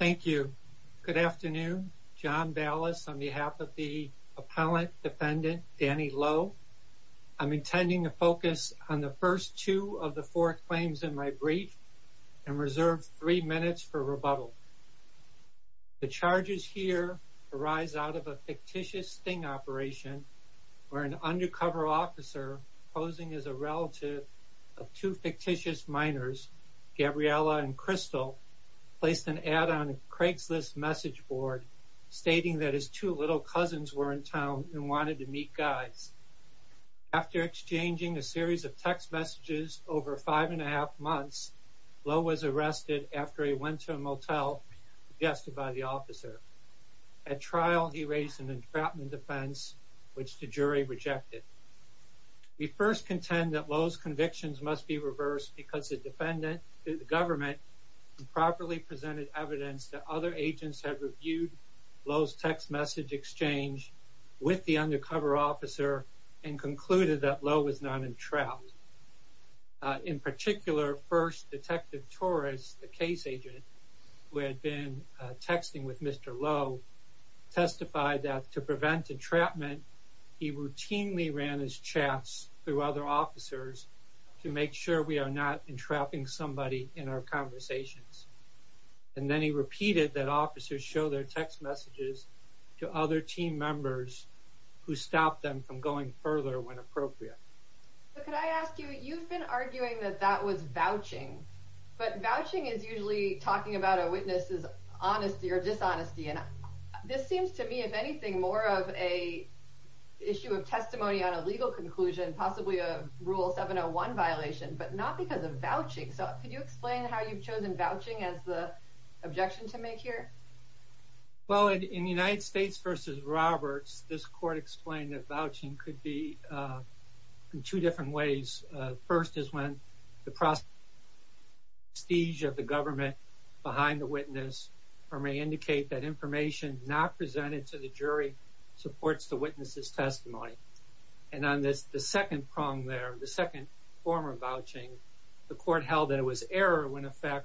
Thank you. Good afternoon. John Ballas on behalf of the appellant defendant Danny Lowe. I'm intending to focus on the first two of the four claims in my brief and reserve three minutes for rebuttal. The charges here arise out of a fictitious sting operation where an undercover officer posing as a relative of two fictitious minors, Gabriella and Crystal, placed an ad on Craigslist message board stating that his two little cousins were in town and wanted to meet guys. After exchanging a series of text messages over five and a half months, Lowe was arrested after he went to a motel suggested by the officer. At trial he raised an entrapment defense which the jury rejected. We first contend that Lowe's convictions must be reversed because the defendant, the government, improperly presented evidence that other agents have reviewed Lowe's text message exchange with the undercover officer and concluded that Lowe was not entrapped. In particular, first detective Torres, the case agent who had been texting with Mr. Lowe, testified that to prevent entrapment he routinely ran his chats through other officers to make sure we are not entrapping somebody in our conversations. And then he repeated that officers show their text messages to other team members who stopped them from going further when appropriate. But could I ask you, you've been arguing that that was vouching, but vouching is usually talking about a witness's honesty or dishonesty and this seems to me, if anything, more of a issue of testimony on a legal conclusion, possibly a rule 701 violation, but not because of vouching. So could you explain how you've chosen vouching as the objection to make here? Well, in the United States versus Roberts, this court explained that vouching could be in two different ways. First is when the prestige of the government behind the supports the witness's testimony. And on this, the second prong there, the second former vouching, the court held that it was error when in fact,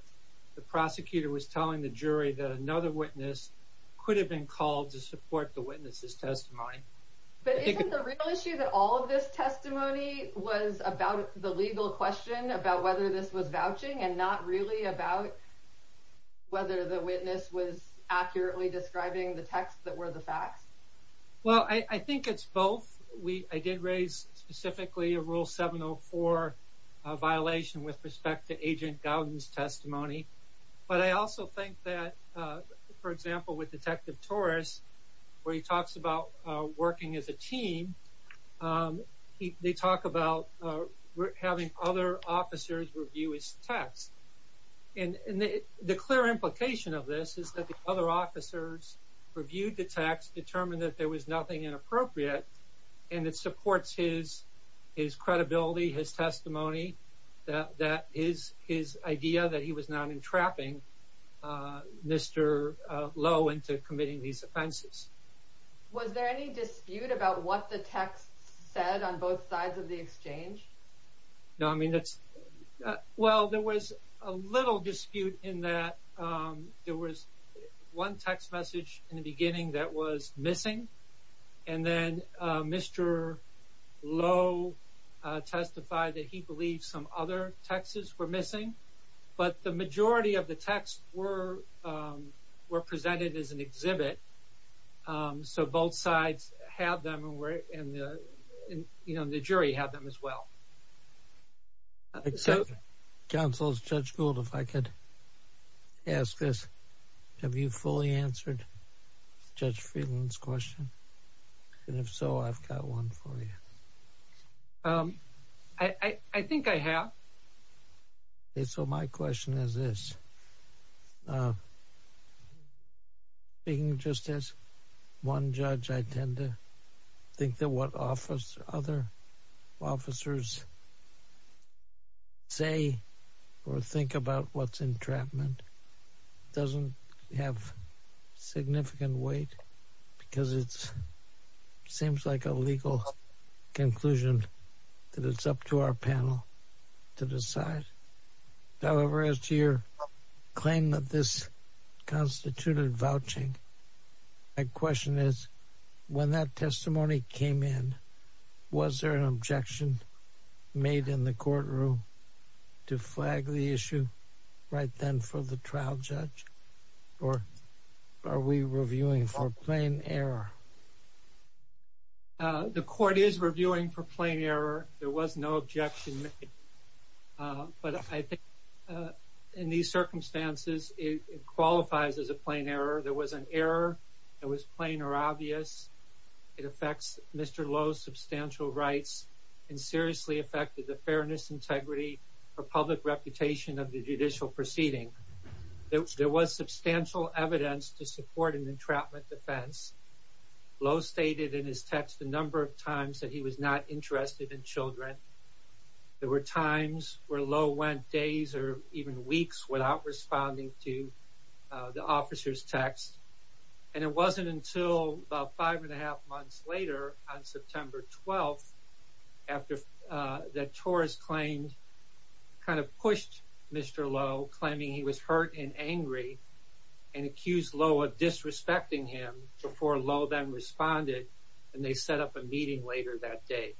the prosecutor was telling the jury that another witness could have been called to support the witness's testimony. But isn't the real issue that all of this testimony was about the legal question about whether this was vouching and not really about whether the witness was accurately describing the text that were the facts? Well, I think it's both. I did raise specifically a rule 704 violation with respect to Agent Gowden's testimony. But I also think that, for example, with Detective Torres, where he talks about working as a team, they talk about having other officers review his text. And the clear implication of this is that the other officers reviewed the text, determined that there was nothing inappropriate. And it supports his credibility, his testimony, that his idea that he was not entrapping Mr. Lowe into committing these offenses. Was there any dispute about what the text said on both sides of the exchange? No, I mean, well, there was a little dispute in that there was one text message in the beginning that was missing. And then Mr. Lowe testified that he believed some other texts were missing. But the majority of the texts were presented as an exhibit. So both sides have them and the jury have them as well. So, counsels, Judge Gould, if I could ask this, have you fully answered Judge Friedland's question? And if so, I've got one for you. I think I have. So my question is this. Speaking just as one judge, I tend to think that what other officers say or think about what's entrapment doesn't have significant weight because it seems like a legal conclusion that it's up to our panel to decide. However, as to your claim that this constituted vouching, my question is, when that testimony came in, was there an objection made in the courtroom to flag the issue right then for the trial judge? Or are we reviewing for plain error? The court is reviewing for plain error. There was no objection. But I think in these circumstances, it qualifies as a plain error. There was an error. It was plain or obvious. It affects Mr. Lowe's substantial rights and seriously affected the fairness, integrity, or public reputation of the judicial proceeding. There was substantial evidence to support an entrapment defense. Lowe stated in his text a number of times that he was not interested in children. There were times where Lowe went days or even weeks without responding to the officer's text. And it wasn't until about five and a half months later, on September 12th, after the Taurus claimed, kind of pushed Mr. Lowe, claiming he was hurt and angry, and accused Lowe of disrespecting him before Lowe then responded. And they set up a meeting later that day.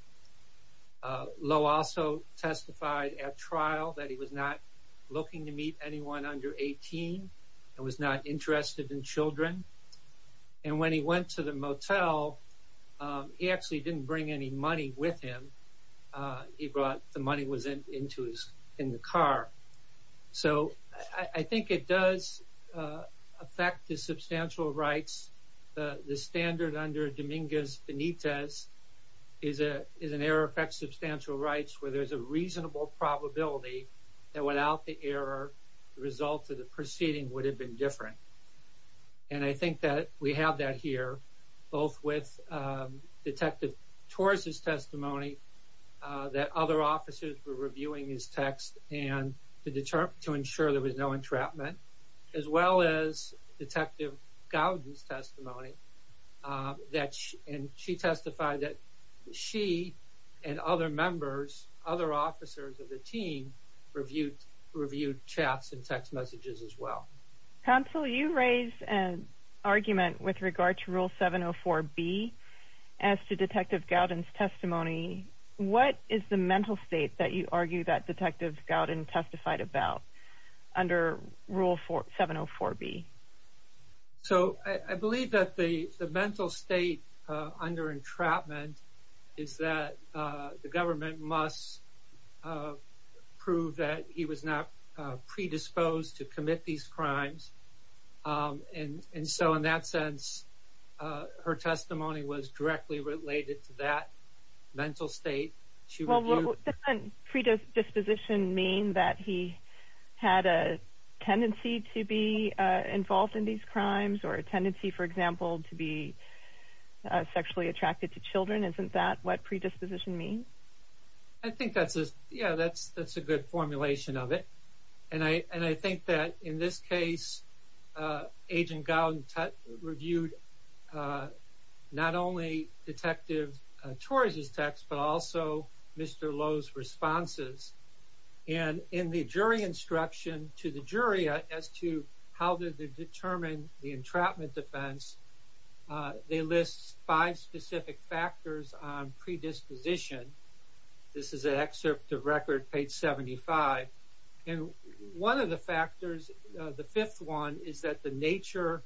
Lowe also testified at trial that he was not looking to meet anyone under 18 and was not interested in children. And when he went to the motel, he actually didn't bring any evidence. The standard under Dominguez-Benitez is an error that affects substantial rights where there's a reasonable probability that without the error, the result of the proceeding would have been different. And I think that we have that here, both with Detective Taurus's testimony that other officers were reviewing his text to ensure there was no entrapment, as well as Detective Gowden's testimony. And she testified that she and other members, other officers of the team, reviewed chats and text messages as well. Counsel, you raised an argument with regard to Rule 704B as to Detective Gowden's testimony. What is the mental state that you argue that Detective Gowden testified about under Rule 704B? So I believe that the mental state under entrapment is that the government must prove that he was not predisposed to commit these crimes. And so in that sense, her testimony was directly related to that mental state. Well, doesn't predisposition mean that he had a tendency to be involved in these crimes, or a tendency, for example, to be sexually attracted to children? Isn't that what predisposition means? I think that's a good formulation of it. And I think that in this case, Agent Gowden reviewed not only Detective Torres' text, but also Mr. Lowe's responses. And in the jury instruction to the jury as to how did they determine the entrapment defense, they list five specific factors on predisposition. This is an excerpt of record, page 75. And one of the factors, the fifth one, is that the nature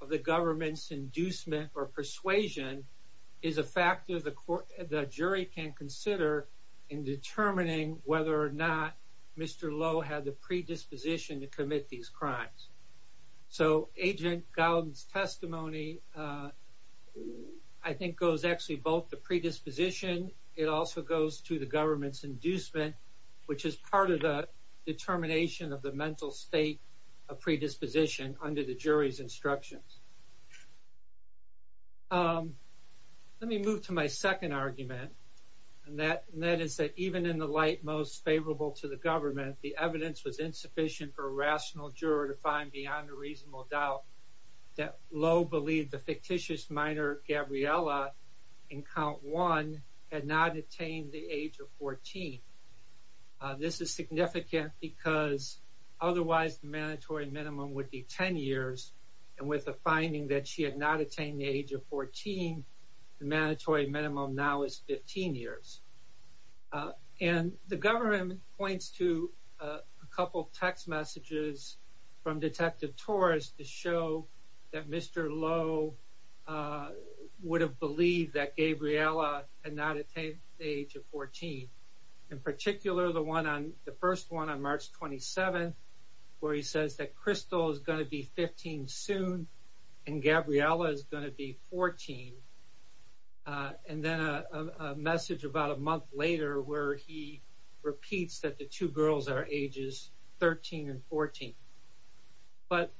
of the government's inducement or persuasion is a factor the jury can consider in determining whether or not Mr. Lowe had the predisposition to commit these crimes. So Agent Gowden's testimony, I think, goes actually both predisposition, it also goes to the government's inducement, which is part of the determination of the mental state of predisposition under the jury's instructions. Let me move to my second argument, and that is that even in the light most favorable to the government, the evidence was insufficient for a rational juror to find beyond a reasonable doubt that Lowe believed the fictitious minor Gabriella in count one had not attained the age of 14. This is significant because otherwise the mandatory minimum would be 10 years, and with the finding that she had not attained the age of 14, the mandatory minimum now is 15 years. And the government points to a couple of text messages from Detective Torres to show that Mr. Lowe would have believed that Gabriella had not attained the age of 14. In particular, the first one on March 27th, where he says that Crystal is going to be 15 soon, and Gabriella is going to be 14. And then a message about a month later, where he repeats that the two girls are ages 13 and 14. But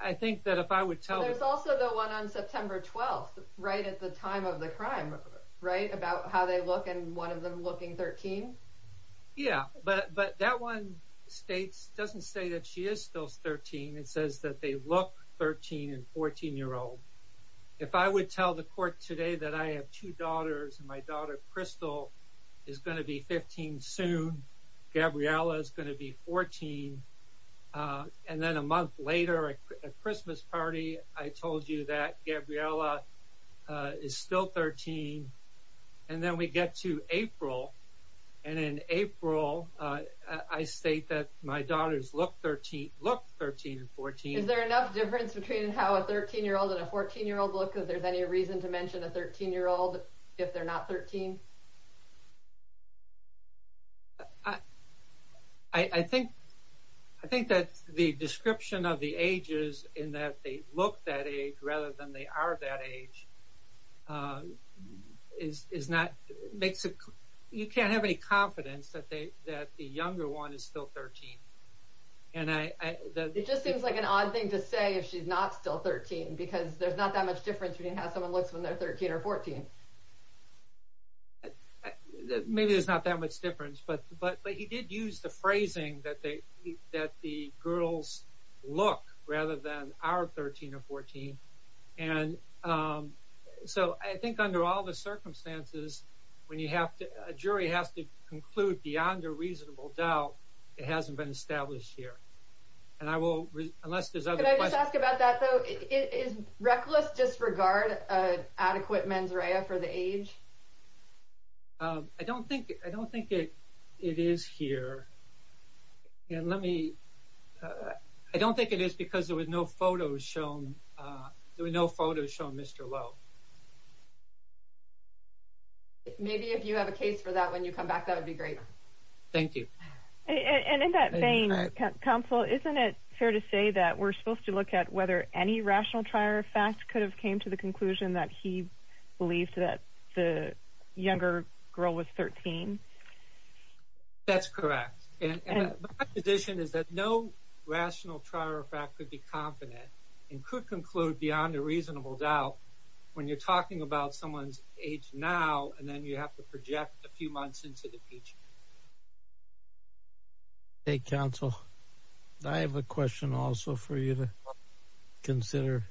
I think that if I would tell... There's also the one on September 12th, right at the time of the crime, right, about how they look, and one of them looking 13. Yeah, but that one states, doesn't say that she is still 13, it says that they look 13 and 14 year old. If I would tell the court today that I have two daughters, and my daughter Crystal is going to be 15 soon, Gabriella is going to be 14, and then a month later at a Christmas party, I told you that Gabriella is still 13. And then we get to April, and in April, I state that my daughters look 13, look 13 and 14. Is there enough difference between how a 13 year old and a 14 year old look, if there's any reason to mention a 13 year old, if they're not 13? I think that the description of the ages, in that they look that age rather than they are that age, is not... You can't have any confidence that the younger one is still 13. And I... It just seems like an odd thing to say if she's not still 13, because there's not that much difference between how someone looks when they're 13 or 14. Maybe there's not that much difference, but he did use the phrasing that the girls look rather than are 13 or 14. And so I think under all the circumstances, when you have to, a jury has to establish here. And I will... Unless there's other questions... Can I just ask about that, though? Is reckless disregard an adequate mens rea for the age? I don't think it is here. And let me... I don't think it is because there were no photos shown. There were no photos shown, Mr. Lowe. Maybe if you have a case for that, when you come back, that would be great. Thank you. And in that vein, Counsel, isn't it fair to say that we're supposed to look at whether any rational trier of fact could have came to the conclusion that he believed that the younger girl was 13? That's correct. And my position is that no rational trier of fact could be confident and could conclude beyond a reasonable doubt when you're talking about someone's age now, and then you have to project a few months into the future. Hey, Counsel, I have a question also for you to consider.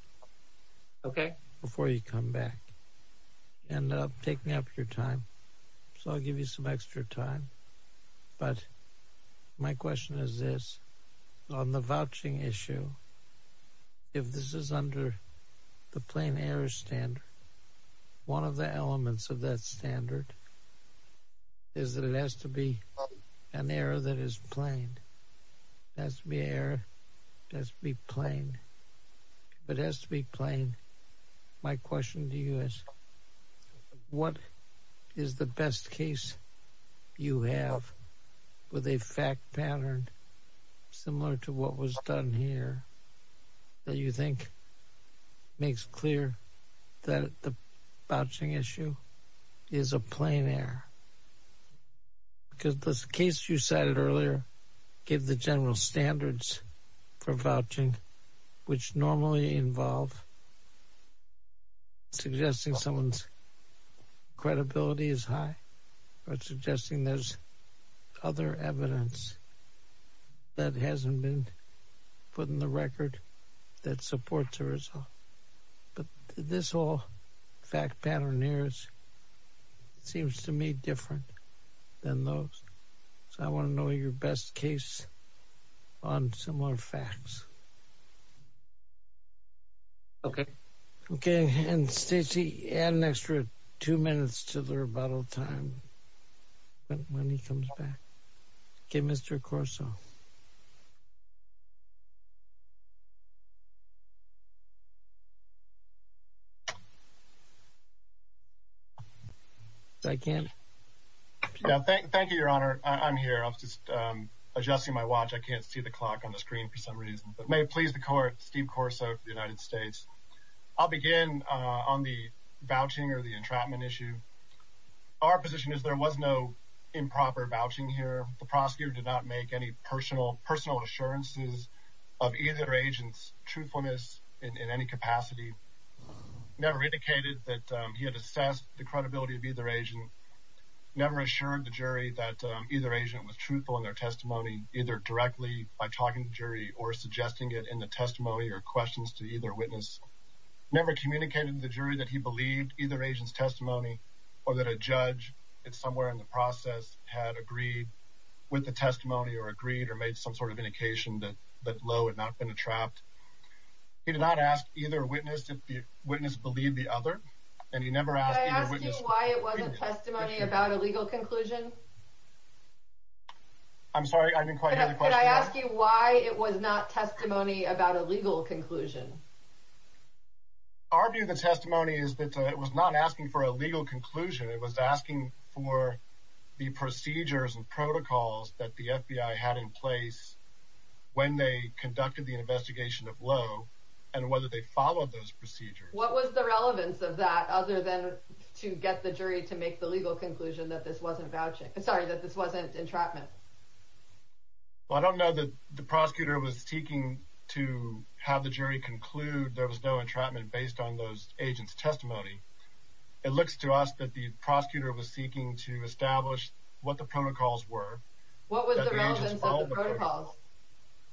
Okay. Before you come back. And take me up your time. So I'll give you some extra time. But my question is this. On the vouching issue, if this is under the plain error standard, one of the elements of that standard is that it has to be an error that is plain. It has to be error. It has to be plain. It has to be plain. My question to you is, what is the best case you have with a fact pattern similar to what was done here that you think makes clear that the vouching issue is a plain error? Because this case you cited earlier gave the general standards for vouching, which normally involve suggesting someone's credibility is high, or suggesting there's other evidence that hasn't been put in the record that supports the result. But this whole fact pattern here seems to me different than those. So I want to know your best case on similar facts. Okay. Okay. And Stacy, add an extra two minutes to the rebuttal time when he comes back. Okay, Mr. Corso. Yeah, thank you, Your Honor. I'm here. I was just adjusting my watch. I can't see the clock on the screen for some reason. But may it please the Court, Steve Corso for the United States. I'll begin on the vouching or the entrapment issue. Our position is there was no improper vouching here. The prosecutor did not make any personal assurances of either agent's truthfulness in any capacity. Never indicated that he had assessed the credibility of either agent. Never assured the jury that either agent was truthful in their testimony, either directly by talking to the jury or suggesting it in the testimony or questions to either witness. Never communicated to the jury that he believed either agent's testimony, or that a judge, somewhere in the process, had agreed with the testimony or agreed or made some sort of indication that Lowe had not been entrapped. He did not ask either witness if the witness believed the other, and he never asked either witness... Could I ask you why it wasn't testimony about a legal conclusion? I'm sorry, I didn't quite hear the question. Could I ask you why it was not testimony about a legal conclusion? Our view of the testimony is that it was not asking for a legal conclusion. It was asking for the procedures and protocols that the FBI had in place when they conducted the investigation of Lowe and whether they followed those procedures. What was the relevance of that other than to get the jury to make the legal conclusion that this wasn't vouching? I'm sorry, that this wasn't entrapment? Well, I don't know that the prosecutor was seeking to have the jury conclude there was no entrapment based on those agents' testimony. It looks to us that the prosecutor was seeking to establish what the protocols were. What was the relevance of the protocols?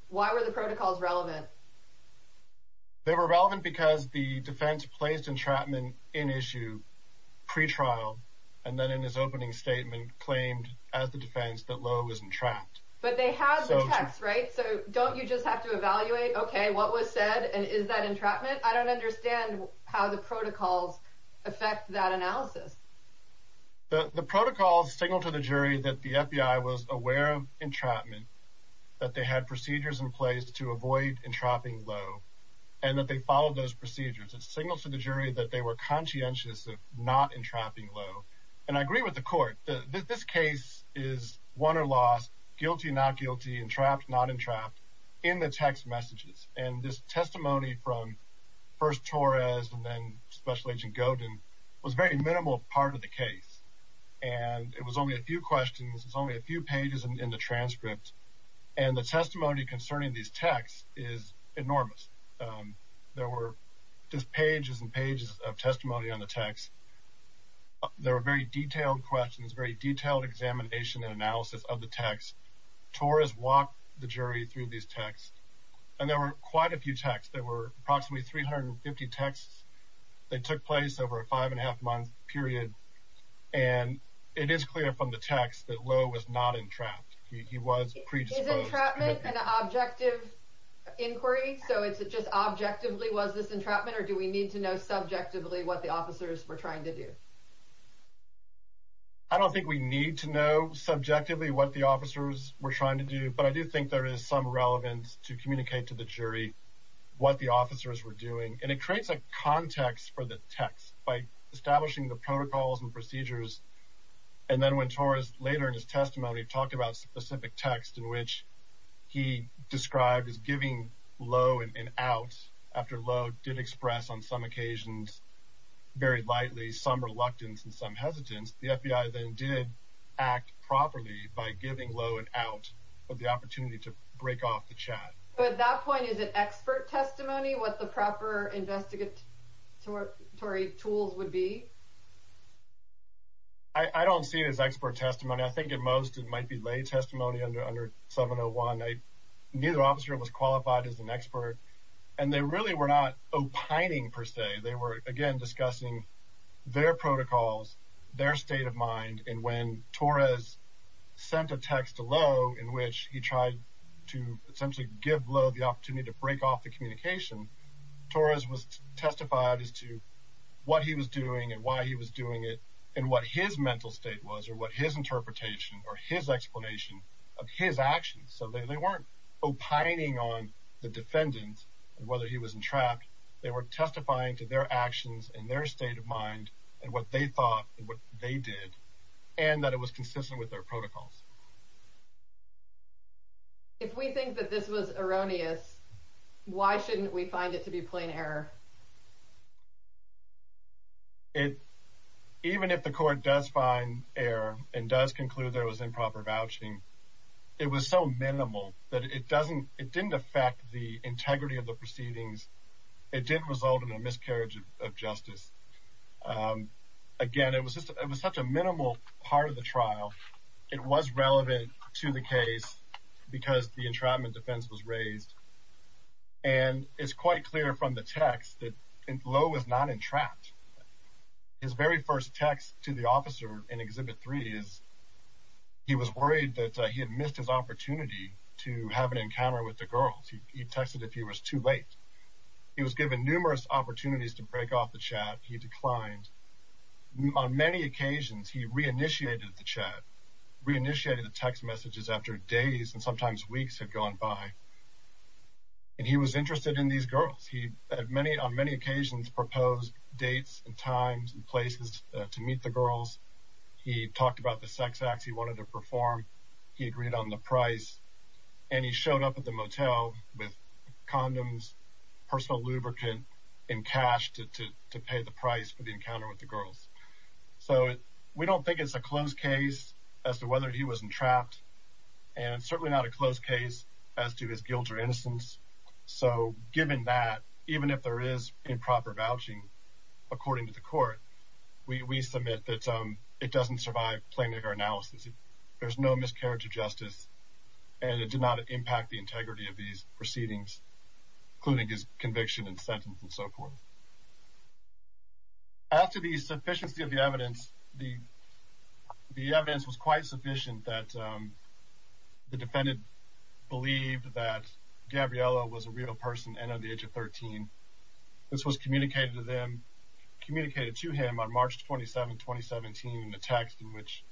Why were the protocols relevant? They were relevant because the defense placed entrapment in issue pre-trial, and then in his opening statement claimed, as the defense, that Lowe was entrapped. But they had the text, right? So don't you just have to evaluate, okay, what was said, and is that entrapment? I don't understand how the protocols affect that analysis. The protocols signal to the jury that the FBI was aware of entrapment, that they had procedures in place to avoid entrapping Lowe, and that they followed those procedures. It signals to the jury that they were conscientious of not entrapping Lowe. And I agree with the court. This case is won or lost, guilty, not guilty, entrapped, not entrapped in the text messages. And this testimony from first Torres and then Special Agent Godin was a very minimal part of the case. And it was only a few questions. It's only a few pages in the transcript. And the testimony concerning these texts is enormous. There were just pages and pages of the text. Torres walked the jury through these texts, and there were quite a few texts. There were approximately 350 texts that took place over a five-and-a-half-month period. And it is clear from the text that Lowe was not entrapped. He was predisposed. Is entrapment an objective inquiry? So is it just objectively, was this entrapment, or do we need to know subjectively what the officers were trying to do? I don't think we need to know subjectively what the officers were trying to do, but I do think there is some relevance to communicate to the jury what the officers were doing. And it creates a context for the text by establishing the protocols and procedures. And then when Torres later in his testimony talked about specific text in which he described as giving Lowe an out, after Lowe did express on some occasions, very lightly, some reluctance and some hesitance, the FBI then did act properly by giving Lowe an out of the opportunity to break off the chat. But at that point, is it expert testimony, what the proper investigatory tools would be? I don't see it as expert testimony. I think at most, it might be lay testimony under 701. Neither officer was qualified as an expert. And they really were not opining per se. They were, again, discussing their protocols, their state of mind. And when Torres sent a text to Lowe in which he tried to essentially give Lowe the opportunity to break off the communication, Torres was testified as to what he was doing and why he was doing it and what his mental state was or what his interpretation or his explanation of his actions. So they weren't opining on the defendant and whether he was entrapped. They were testifying to their actions and their state of mind and what they thought and what they did and that it was consistent with their protocols. If we think that this was erroneous, why shouldn't we find it to be plain error? Even if the court does find error and does conclude there was improper vouching, it was so minimal that it didn't affect the integrity of the proceedings. It didn't result in a miscarriage of justice. Again, it was such a minimal part of the trial. It was relevant to the case because the entrapment defense was raised. And it's quite clear from the text that Lowe was not entrapped. His very first text to the officer in Exhibit 3 is he was worried that he had missed his opportunity to have an encounter with the girls. He texted if he was too late. He was given numerous opportunities to break off the chat. He declined. On many occasions, he re-initiated the chat, re-initiated the text messages after days and sometimes weeks had gone by. And he was interested in these girls. He on many occasions proposed dates and times and places to meet the girls. He talked about the sex acts he wanted to perform. He agreed on the price. And he showed up at the motel with condoms, personal lubricant, and cash to pay the price for the encounter with the girls. So we don't think it's a closed case as to whether he was entrapped. And it's certainly not a closed case as to his guilt or innocence. So given that, even if there is improper vouching, according to the court, we submit that it doesn't survive plaintiff analysis. There's no miscarriage of justice. And it did not impact the integrity of these proceedings, including his conviction and sentence and so forth. After the sufficiency of the evidence, the evidence was quite sufficient that the defendant believed that Gabriela was a real person and of the age of 13. This was communicated to him on March 27, 2017, in a text in which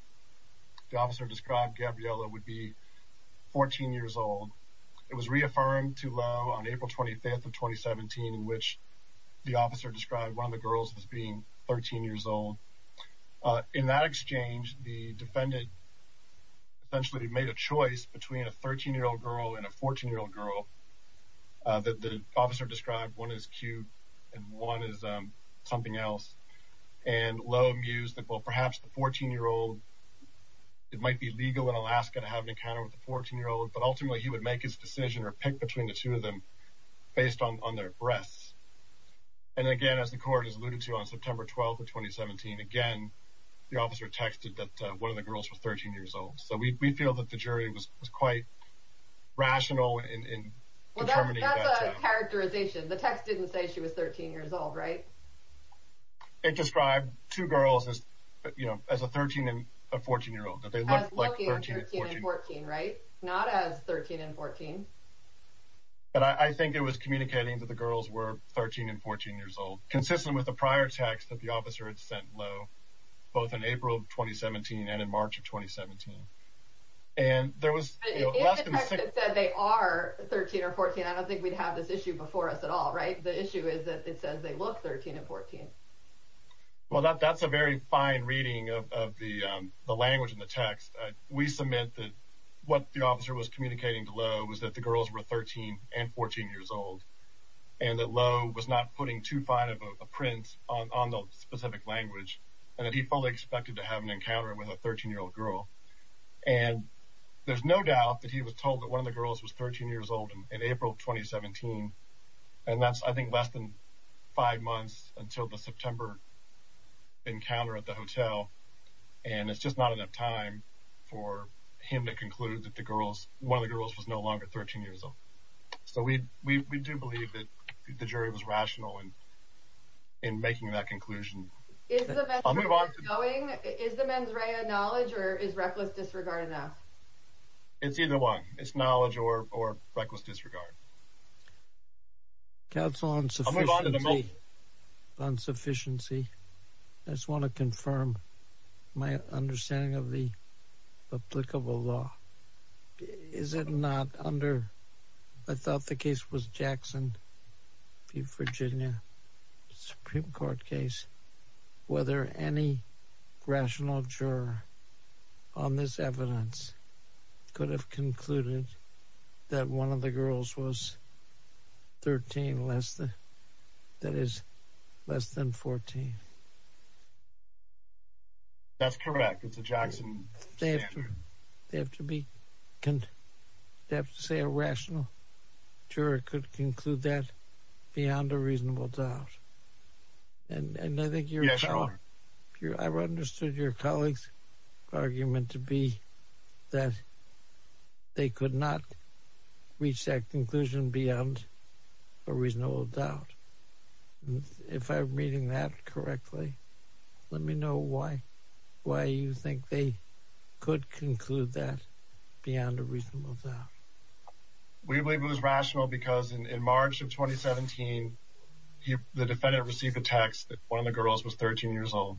the officer described Gabriela would be 14 years old. It was reaffirmed to Lowe on April 25th of 2017, in which the officer described one of the girls as being 13 years old. In that exchange, the defendant essentially made a choice between a 13-year-old girl and a 14-year-old girl. The officer described one as cute and one as something else. And Lowe mused that, well, perhaps the 14-year-old, it might be legal in Alaska to have an encounter with a 14-year-old, but ultimately he would make his decision or pick between the two of them based on their breaths. And again, as the court has alluded to, on September 12th of 2017, again, the officer texted that one of the girls was 13 years old. So we feel that the jury was quite rational in determining that. Well, that's a characterization. The text didn't say she was 13 years old, right? It described two girls as, you know, as a 13 and a 14-year-old. As looking 13 and 14, right? Not as 13 and 14. But I think it was communicating that the girls were 13 and 14 years old, consistent with the prior text that the officer had sent Lowe, both in April of 2017 and in March of 2017. And there was less than a second... In the text, it said they are 13 or 14. I don't think we'd have this issue before us at all, right? The issue is that it says they look 13 and 14. Well, that's a very fine reading of the language in the text. We submit that what the officer was communicating to Lowe was that the girls were 13 and 14 years old, and that Lowe was not putting too fine of a print on the specific language, and that he fully expected to have an encounter with a 13-year-old girl. And there's no doubt that he was told that one of the girls was 13 years old in April of 2017. And that's, I think, less than five months until the September encounter at the hotel. And it's just not enough time for him to conclude that one of the girls was no longer 13 years old. So we do believe that the jury was rational in making that conclusion. Is the mens rea going? Is the mens rea knowledge, or is reckless disregard enough? It's either one. It's knowledge or reckless disregard. Counsel, on sufficiency, I just want to confirm my understanding of the applicable law. Is it not under, I thought the case was Jackson v. Virginia Supreme Court case, whether any rational juror on this evidence could have concluded that one of the girls was 13 less than, that is, less than 14? That's correct. It's a Jackson standard. They have to be, they have to say a rational juror could conclude that beyond a reasonable doubt. And I think I've understood your colleague's argument to be that they could not reach that conclusion beyond a reasonable doubt. If I'm reading that correctly, let me know why you think they could conclude that beyond a reasonable doubt. We believe it was rational because in March of 2017, the defendant received a text that one of the girls was 13 years old.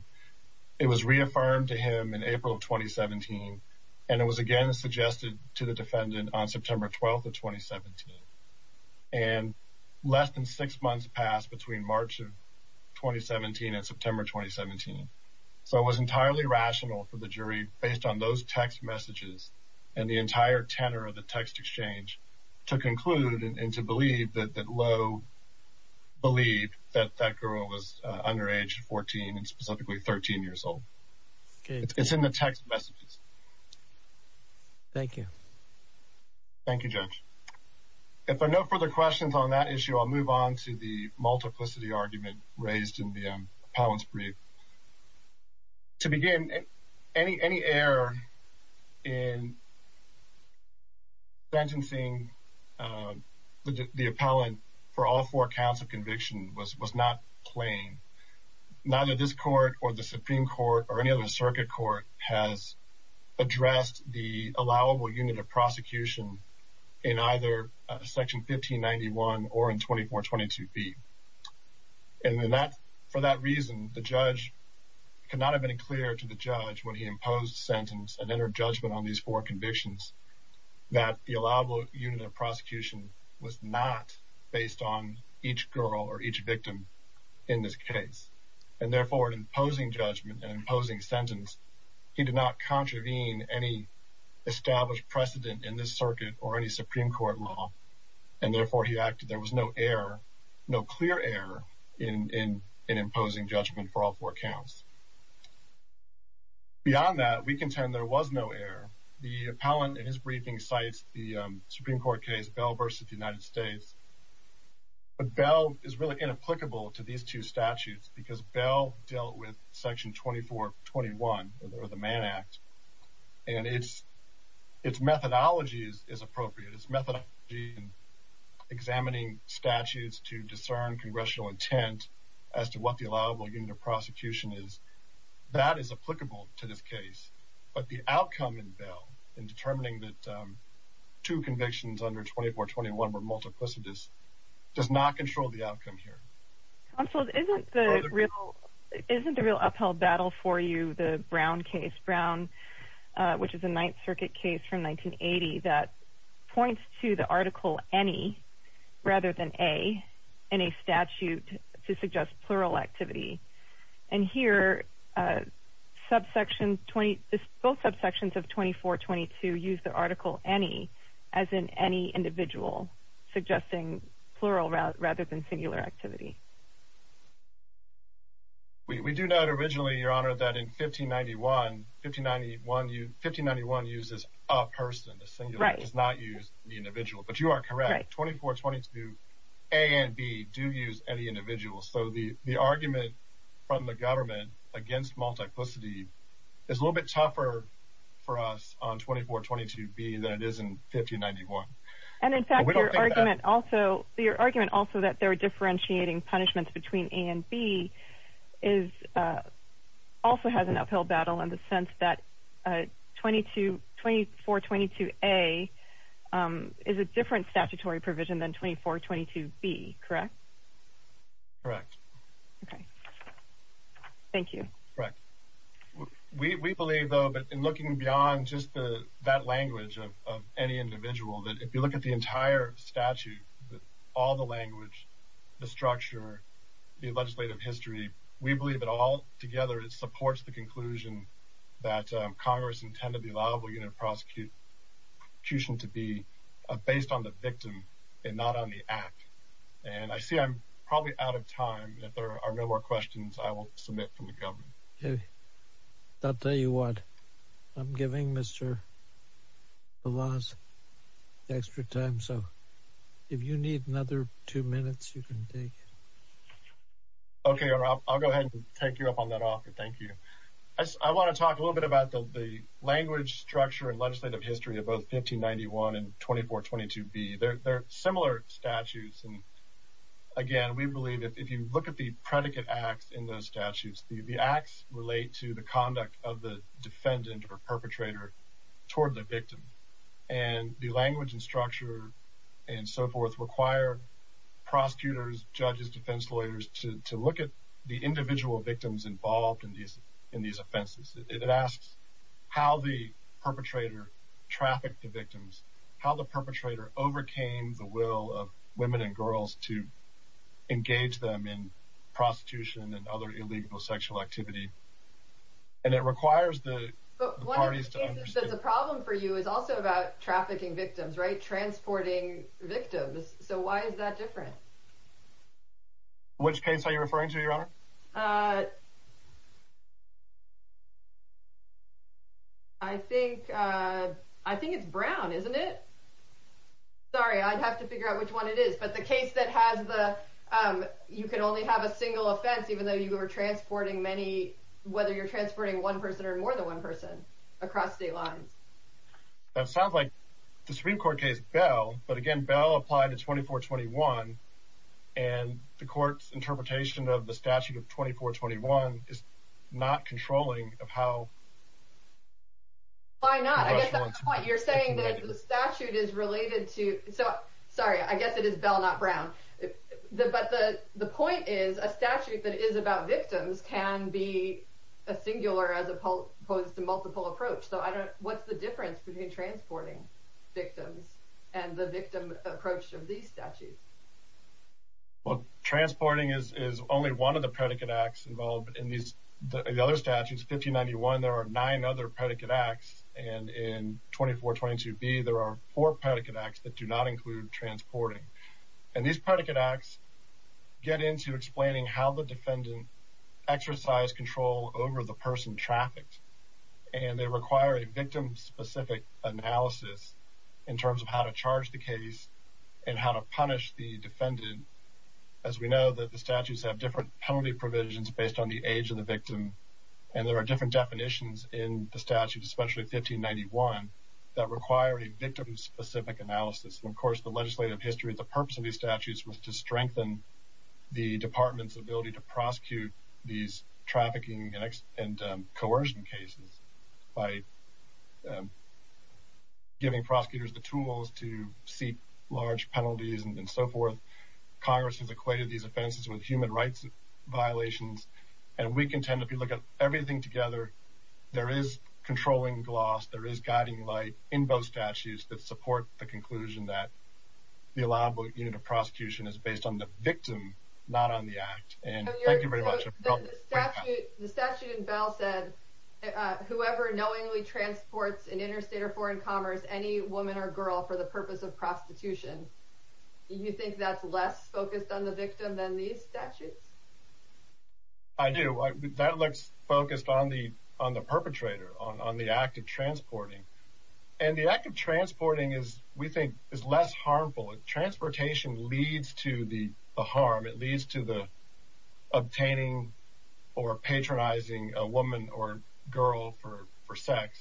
It was reaffirmed to him in April of 2017, and it was again suggested to the defendant on September 12th of 2017. And less than six months passed between March of 2017 and September 2017. So it was entirely rational for the jury based on those text messages and the entire tenor of the text exchange to conclude and to believe that Lowe believed that that girl was under age 14 and specifically 13 years old. It's in the text messages. Thank you. Thank you, Judge. If there are no further questions on that issue, I'll move on to the multiplicity argument raised in the appellant's brief. To begin, any error in sentencing the appellant for all four counts of conviction was not plain. Neither this court or the Supreme Court or any other circuit court has addressed the allowable unit of prosecution in either section 1591 or in 2422B. And for that reason, the judge could not have been clear to the judge when he imposed sentence and entered judgment on these four convictions that the allowable unit of prosecution was not based on each girl or each victim in this case. And therefore, in imposing judgment and imposing sentence, he did not contravene any established precedent in this circuit or any Supreme Court law. And therefore, he acted. There was no error, no clear error in imposing judgment for all four counts. Beyond that, we contend there was no error. The appellant in his briefing cites the Supreme Court case Bell v. United States. But Bell is really inapplicable to these two statutes because Bell dealt with section 2421, or the Mann Act. And its methodology is appropriate. Its methodology in examining statutes to discern congressional intent as to what the allowable unit of prosecution is, that is applicable to this case. But the outcome in Bell in determining that two convictions under 2421 were multiplicitous does not control the outcome here. Counsel, isn't the real upheld battle for you the Brown case, Brown, which is a Ninth Circuit case from 1980 that points to the article any rather than a in a statute to suggest plural activity. And here, both subsections of 2422 use the article any, as in any individual suggesting plural rather than singular activity. We do not originally, Your Honor, that in 1591, 1591 uses a person. The singular does not use the individual. But you are correct. 2422 A and B do use any individual. So the argument from the government against multiplicity is a little bit tougher for us on 2422 B than it is in 1591. And in fact, your argument also, your argument also that they're differentiating punishments between A and B is also has an upheld battle in the sense that 2422 A is a different statutory provision than 2422 B, correct? Correct. Okay. Thank you. Correct. We believe, though, but in looking beyond just the that language of any individual, that if you look at the entire statute, all the language, the structure, the legislative history, we believe that all together, it supports the conclusion that Congress intended the allowable unit of prosecution to be based on the victim and not on the act. And I see I'm probably out of time. If there are no more questions, I will submit from the government. I'll tell you what, I'm giving Mr. Belaz extra time. So if you need another two minutes, you can take. Okay, I'll go ahead and take you up on that offer. Thank you. I want to talk a little bit about the language structure and legislative history of both 1591 and 2422 B. They're similar statutes. And again, we believe if you look at the predicate acts in those statutes, the acts relate to the conduct of the defendant or perpetrator toward the victim. And the language and structure and so forth require prosecutors, judges, defense lawyers to look at the individual victims involved in these in these offenses. It asks how the perpetrator trafficked the victims, how the perpetrator overcame the will of women and girls to engage them in prostitution and other illegal sexual activity. And it requires the parties to understand the problem for you is also about trafficking victims, right? transporting victims. So why is that different? Which case are you referring to your honor? I think I think it's brown, isn't it? Sorry, I'd have to figure out which one it is. But the case that has the you can only have a single offense, even though you are transporting many, whether you're transporting one person or more than one person across state lines. That sounds like the Supreme Court case Bell, but again, Bell applied to 2421. And the court's interpretation of the statute of 2421 is not controlling of how? Why not? You're saying that the statute is related to Sorry, I guess it is Bell, not Brown. The but the the point is a statute that is about victims can be a singular as opposed to multiple approach. So I don't what's the difference between transporting victims and the victim approach of these statutes? Well, transporting is only one of the predicate acts involved in these. The other statutes 1591 there are nine other predicate acts. And in 2422 B, there are four predicate acts that do not include transporting. And these predicate acts get into explaining how the defendant exercise control over the person trafficked. And they require a victim specific analysis in terms of how to charge the case and how to punish the defendant. As we know that the statutes have different penalty provisions based on the age of the victim. And there are different definitions in the statute, especially 1591 that require a victim specific analysis. And of course, the legislative history, the purpose of these statutes was to strengthen the department's ability to prosecute these trafficking and coercion cases by giving prosecutors the tools to large penalties and so forth. Congress has equated these offenses with human rights violations. And we can tend to look at everything together. There is controlling gloss, there is guiding light in both statutes that support the conclusion that the allowable unit of prosecution is based on the victim, not on the act. And thank you very much. The statute in Bell said, whoever knowingly transports an interstate or foreign commerce, any woman or girl for the prostitution, do you think that's less focused on the victim than these statutes? I do. That looks focused on the perpetrator, on the act of transporting. And the act of transporting is, we think, is less harmful. Transportation leads to the harm. It leads to the obtaining or patronizing a woman or girl for sex.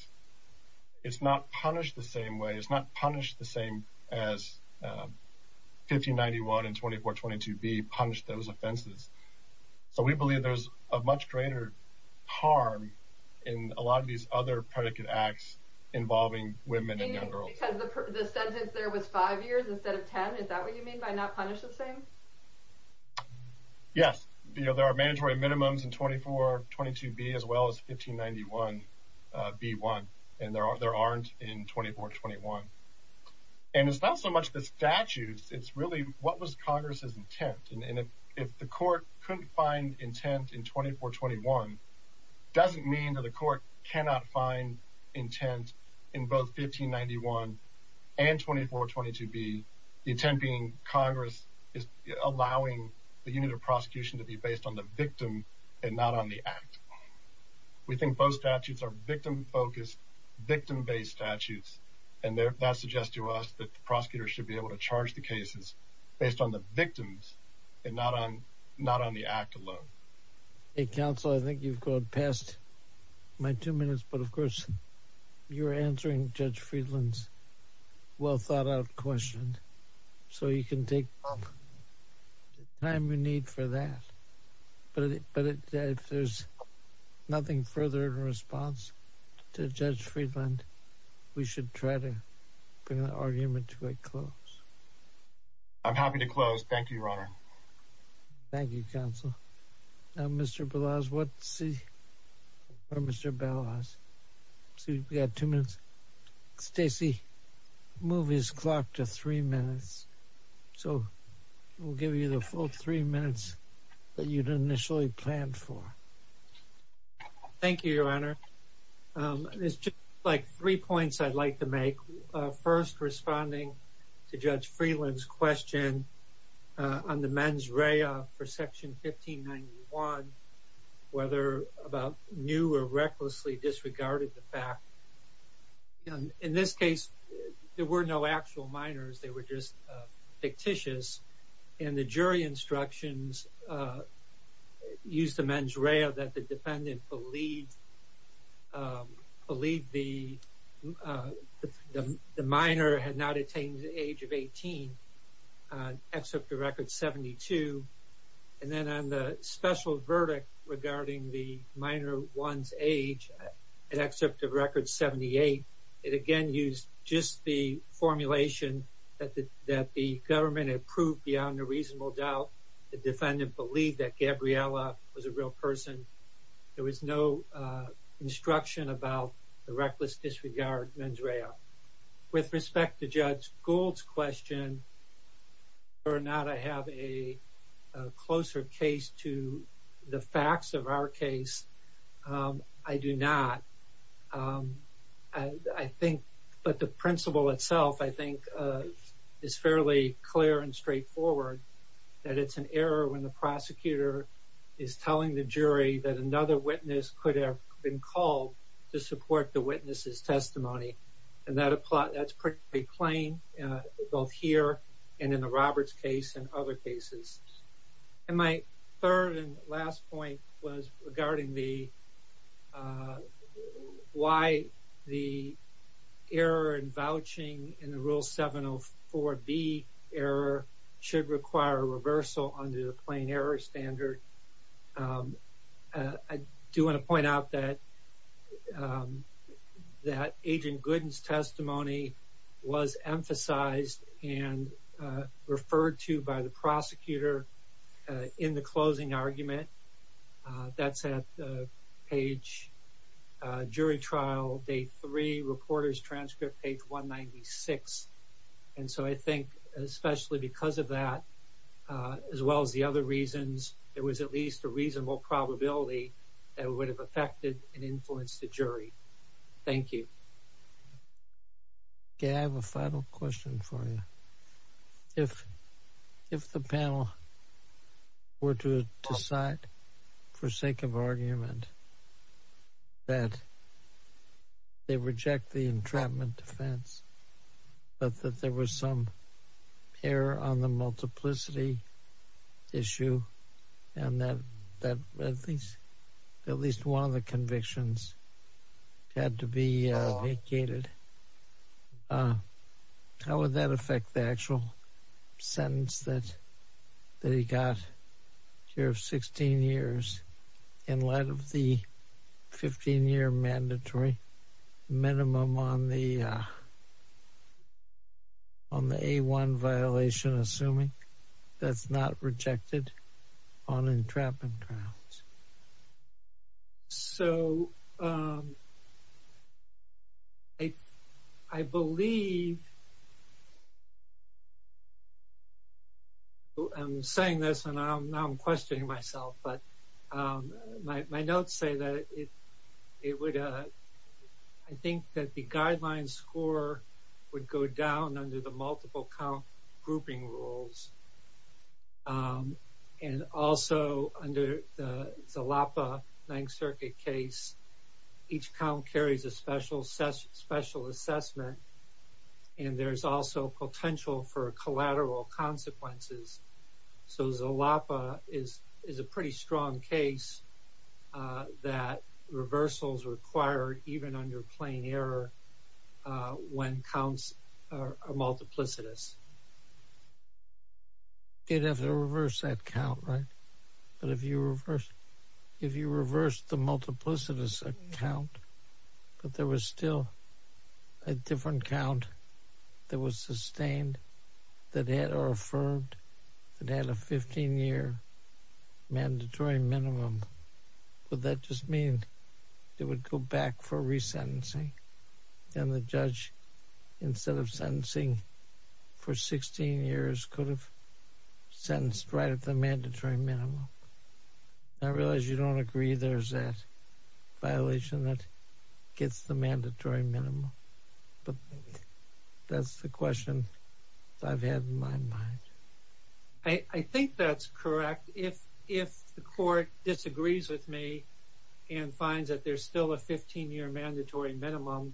It's not punished the same way. It's not as 1591 and 2422B punish those offenses. So we believe there's a much greater harm in a lot of these other predicate acts involving women and young girls. You mean because the sentence there was 5 years instead of 10? Is that what you mean by not punish the same? Yes. There are mandatory minimums in 2422B as well as 1591B1. And there aren't in 2421. And it's not so much the statutes. It's really what was Congress's intent. And if the court couldn't find intent in 2421, doesn't mean that the court cannot find intent in both 1591 and 2422B, the intent being Congress is allowing the unit of prosecution to be based on the victim and not on the act. We think both statutes are victim-focused, victim-based statutes. And that suggests to us that the prosecutor should be able to charge the cases based on the victims and not on the act alone. Hey, counsel, I think you've gone past my two minutes. But of course, you're answering Judge Friedland's well-thought-out question. So you can take the time you need for that. But if there's nothing further in response to Judge Friedland, we should try to bring the argument to a close. I'm happy to close. Thank you, Your Honor. Thank you, counsel. Now, Mr. Balazs, what's your response to Judge Friedland's question on the mens rea for Section 1591, whether about new or recklessly disregarded the fact? In this case, there were no actual minors. They were just fictitious. And the jury instructions used the mens rea that the defendant believed the minor had not attained the age of 18, except the record 72. And then on the special verdict regarding the minor one's age, except the record 78, it again used just the formulation that the government approved beyond a reasonable doubt. The defendant believed that Gabriella was a real person. There was no instruction about the reckless disregard mens rea. With respect to Judge Gould's question, whether or not I have a closer case to the facts of our case, I do not. But the principle itself, I think, is fairly clear and straightforward, that it's an error when the prosecutor is telling the jury that another witness could have been called to support the witness's testimony. And that's pretty plain, both here and in the Roberts case and other cases. And my third and last point was regarding why the error in vouching in the Rule 704B error should require a reversal under the plain error standard. I do want to point out that Agent Gooden's testimony was emphasized and referred to by the prosecutor in the closing argument. That's at page, jury trial, day three, reporter's transcript, page 196. And so I think, especially because of that, as well as the other reasons, there was at least a reasonable probability that it would have affected and influenced the jury. Thank you. Okay, I have a final question for you. If the panel were to decide, for sake of argument, that they reject the entrapment defense, but that there was some error on the multiplicity issue, and that at least one of the convictions had to be vacated, how would that affect the actual sentence that he got here of 16 years in light of the 15-year mandatory minimum on the A1 violation, assuming that's not rejected on entrapment grounds? So, I believe, I'm saying this and now I'm questioning myself, but my notes say that it would, I think that the guideline score would go down under the multiple count grouping rules. And also, under the Zalapa Ninth Circuit case, each count carries a special assessment, and there's also potential for collateral consequences. So, Zalapa is a pretty strong case that reversals are required, even under plain error, when counts are multiplicitous. You'd have to reverse that count, right? But if you reverse, if you reverse the multiplicitous count, but there was still a different count that was sustained, that had or affirmed, that had a 15-year mandatory minimum, would that just mean it would go back for resentencing? Then the judge, instead of sentencing for 16 years, could have sentenced right at the mandatory minimum. I realize you don't agree there's that violation that gets the mandatory minimum, but that's the question I've had in my mind. I think that's correct. If the court disagrees with me and finds that there's still a 15-year mandatory minimum,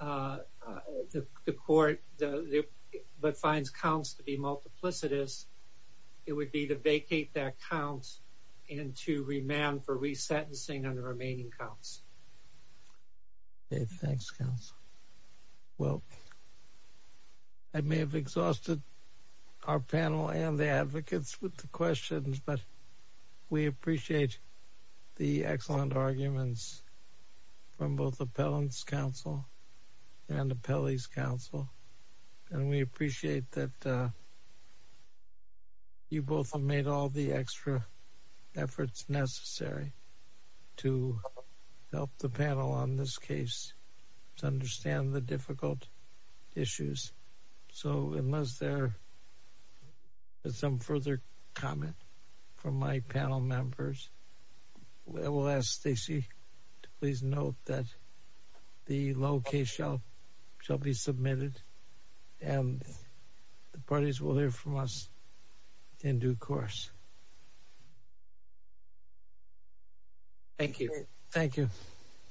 but finds counts to be multiplicitous, it would be to vacate that count and to remand for resentencing on the remaining counts. Okay, thanks, counsel. Well, I may have exhausted our panel and the advocates with the excellent arguments from both Appellant's counsel and Appellee's counsel, and we appreciate that you both have made all the extra efforts necessary to help the panel on this case to understand the difficult issues. So, unless there is some further comment from my panel members, I will ask Stacey to please note that the low case shall be submitted, and the parties will hear from us in due course. Thank you. Thank you.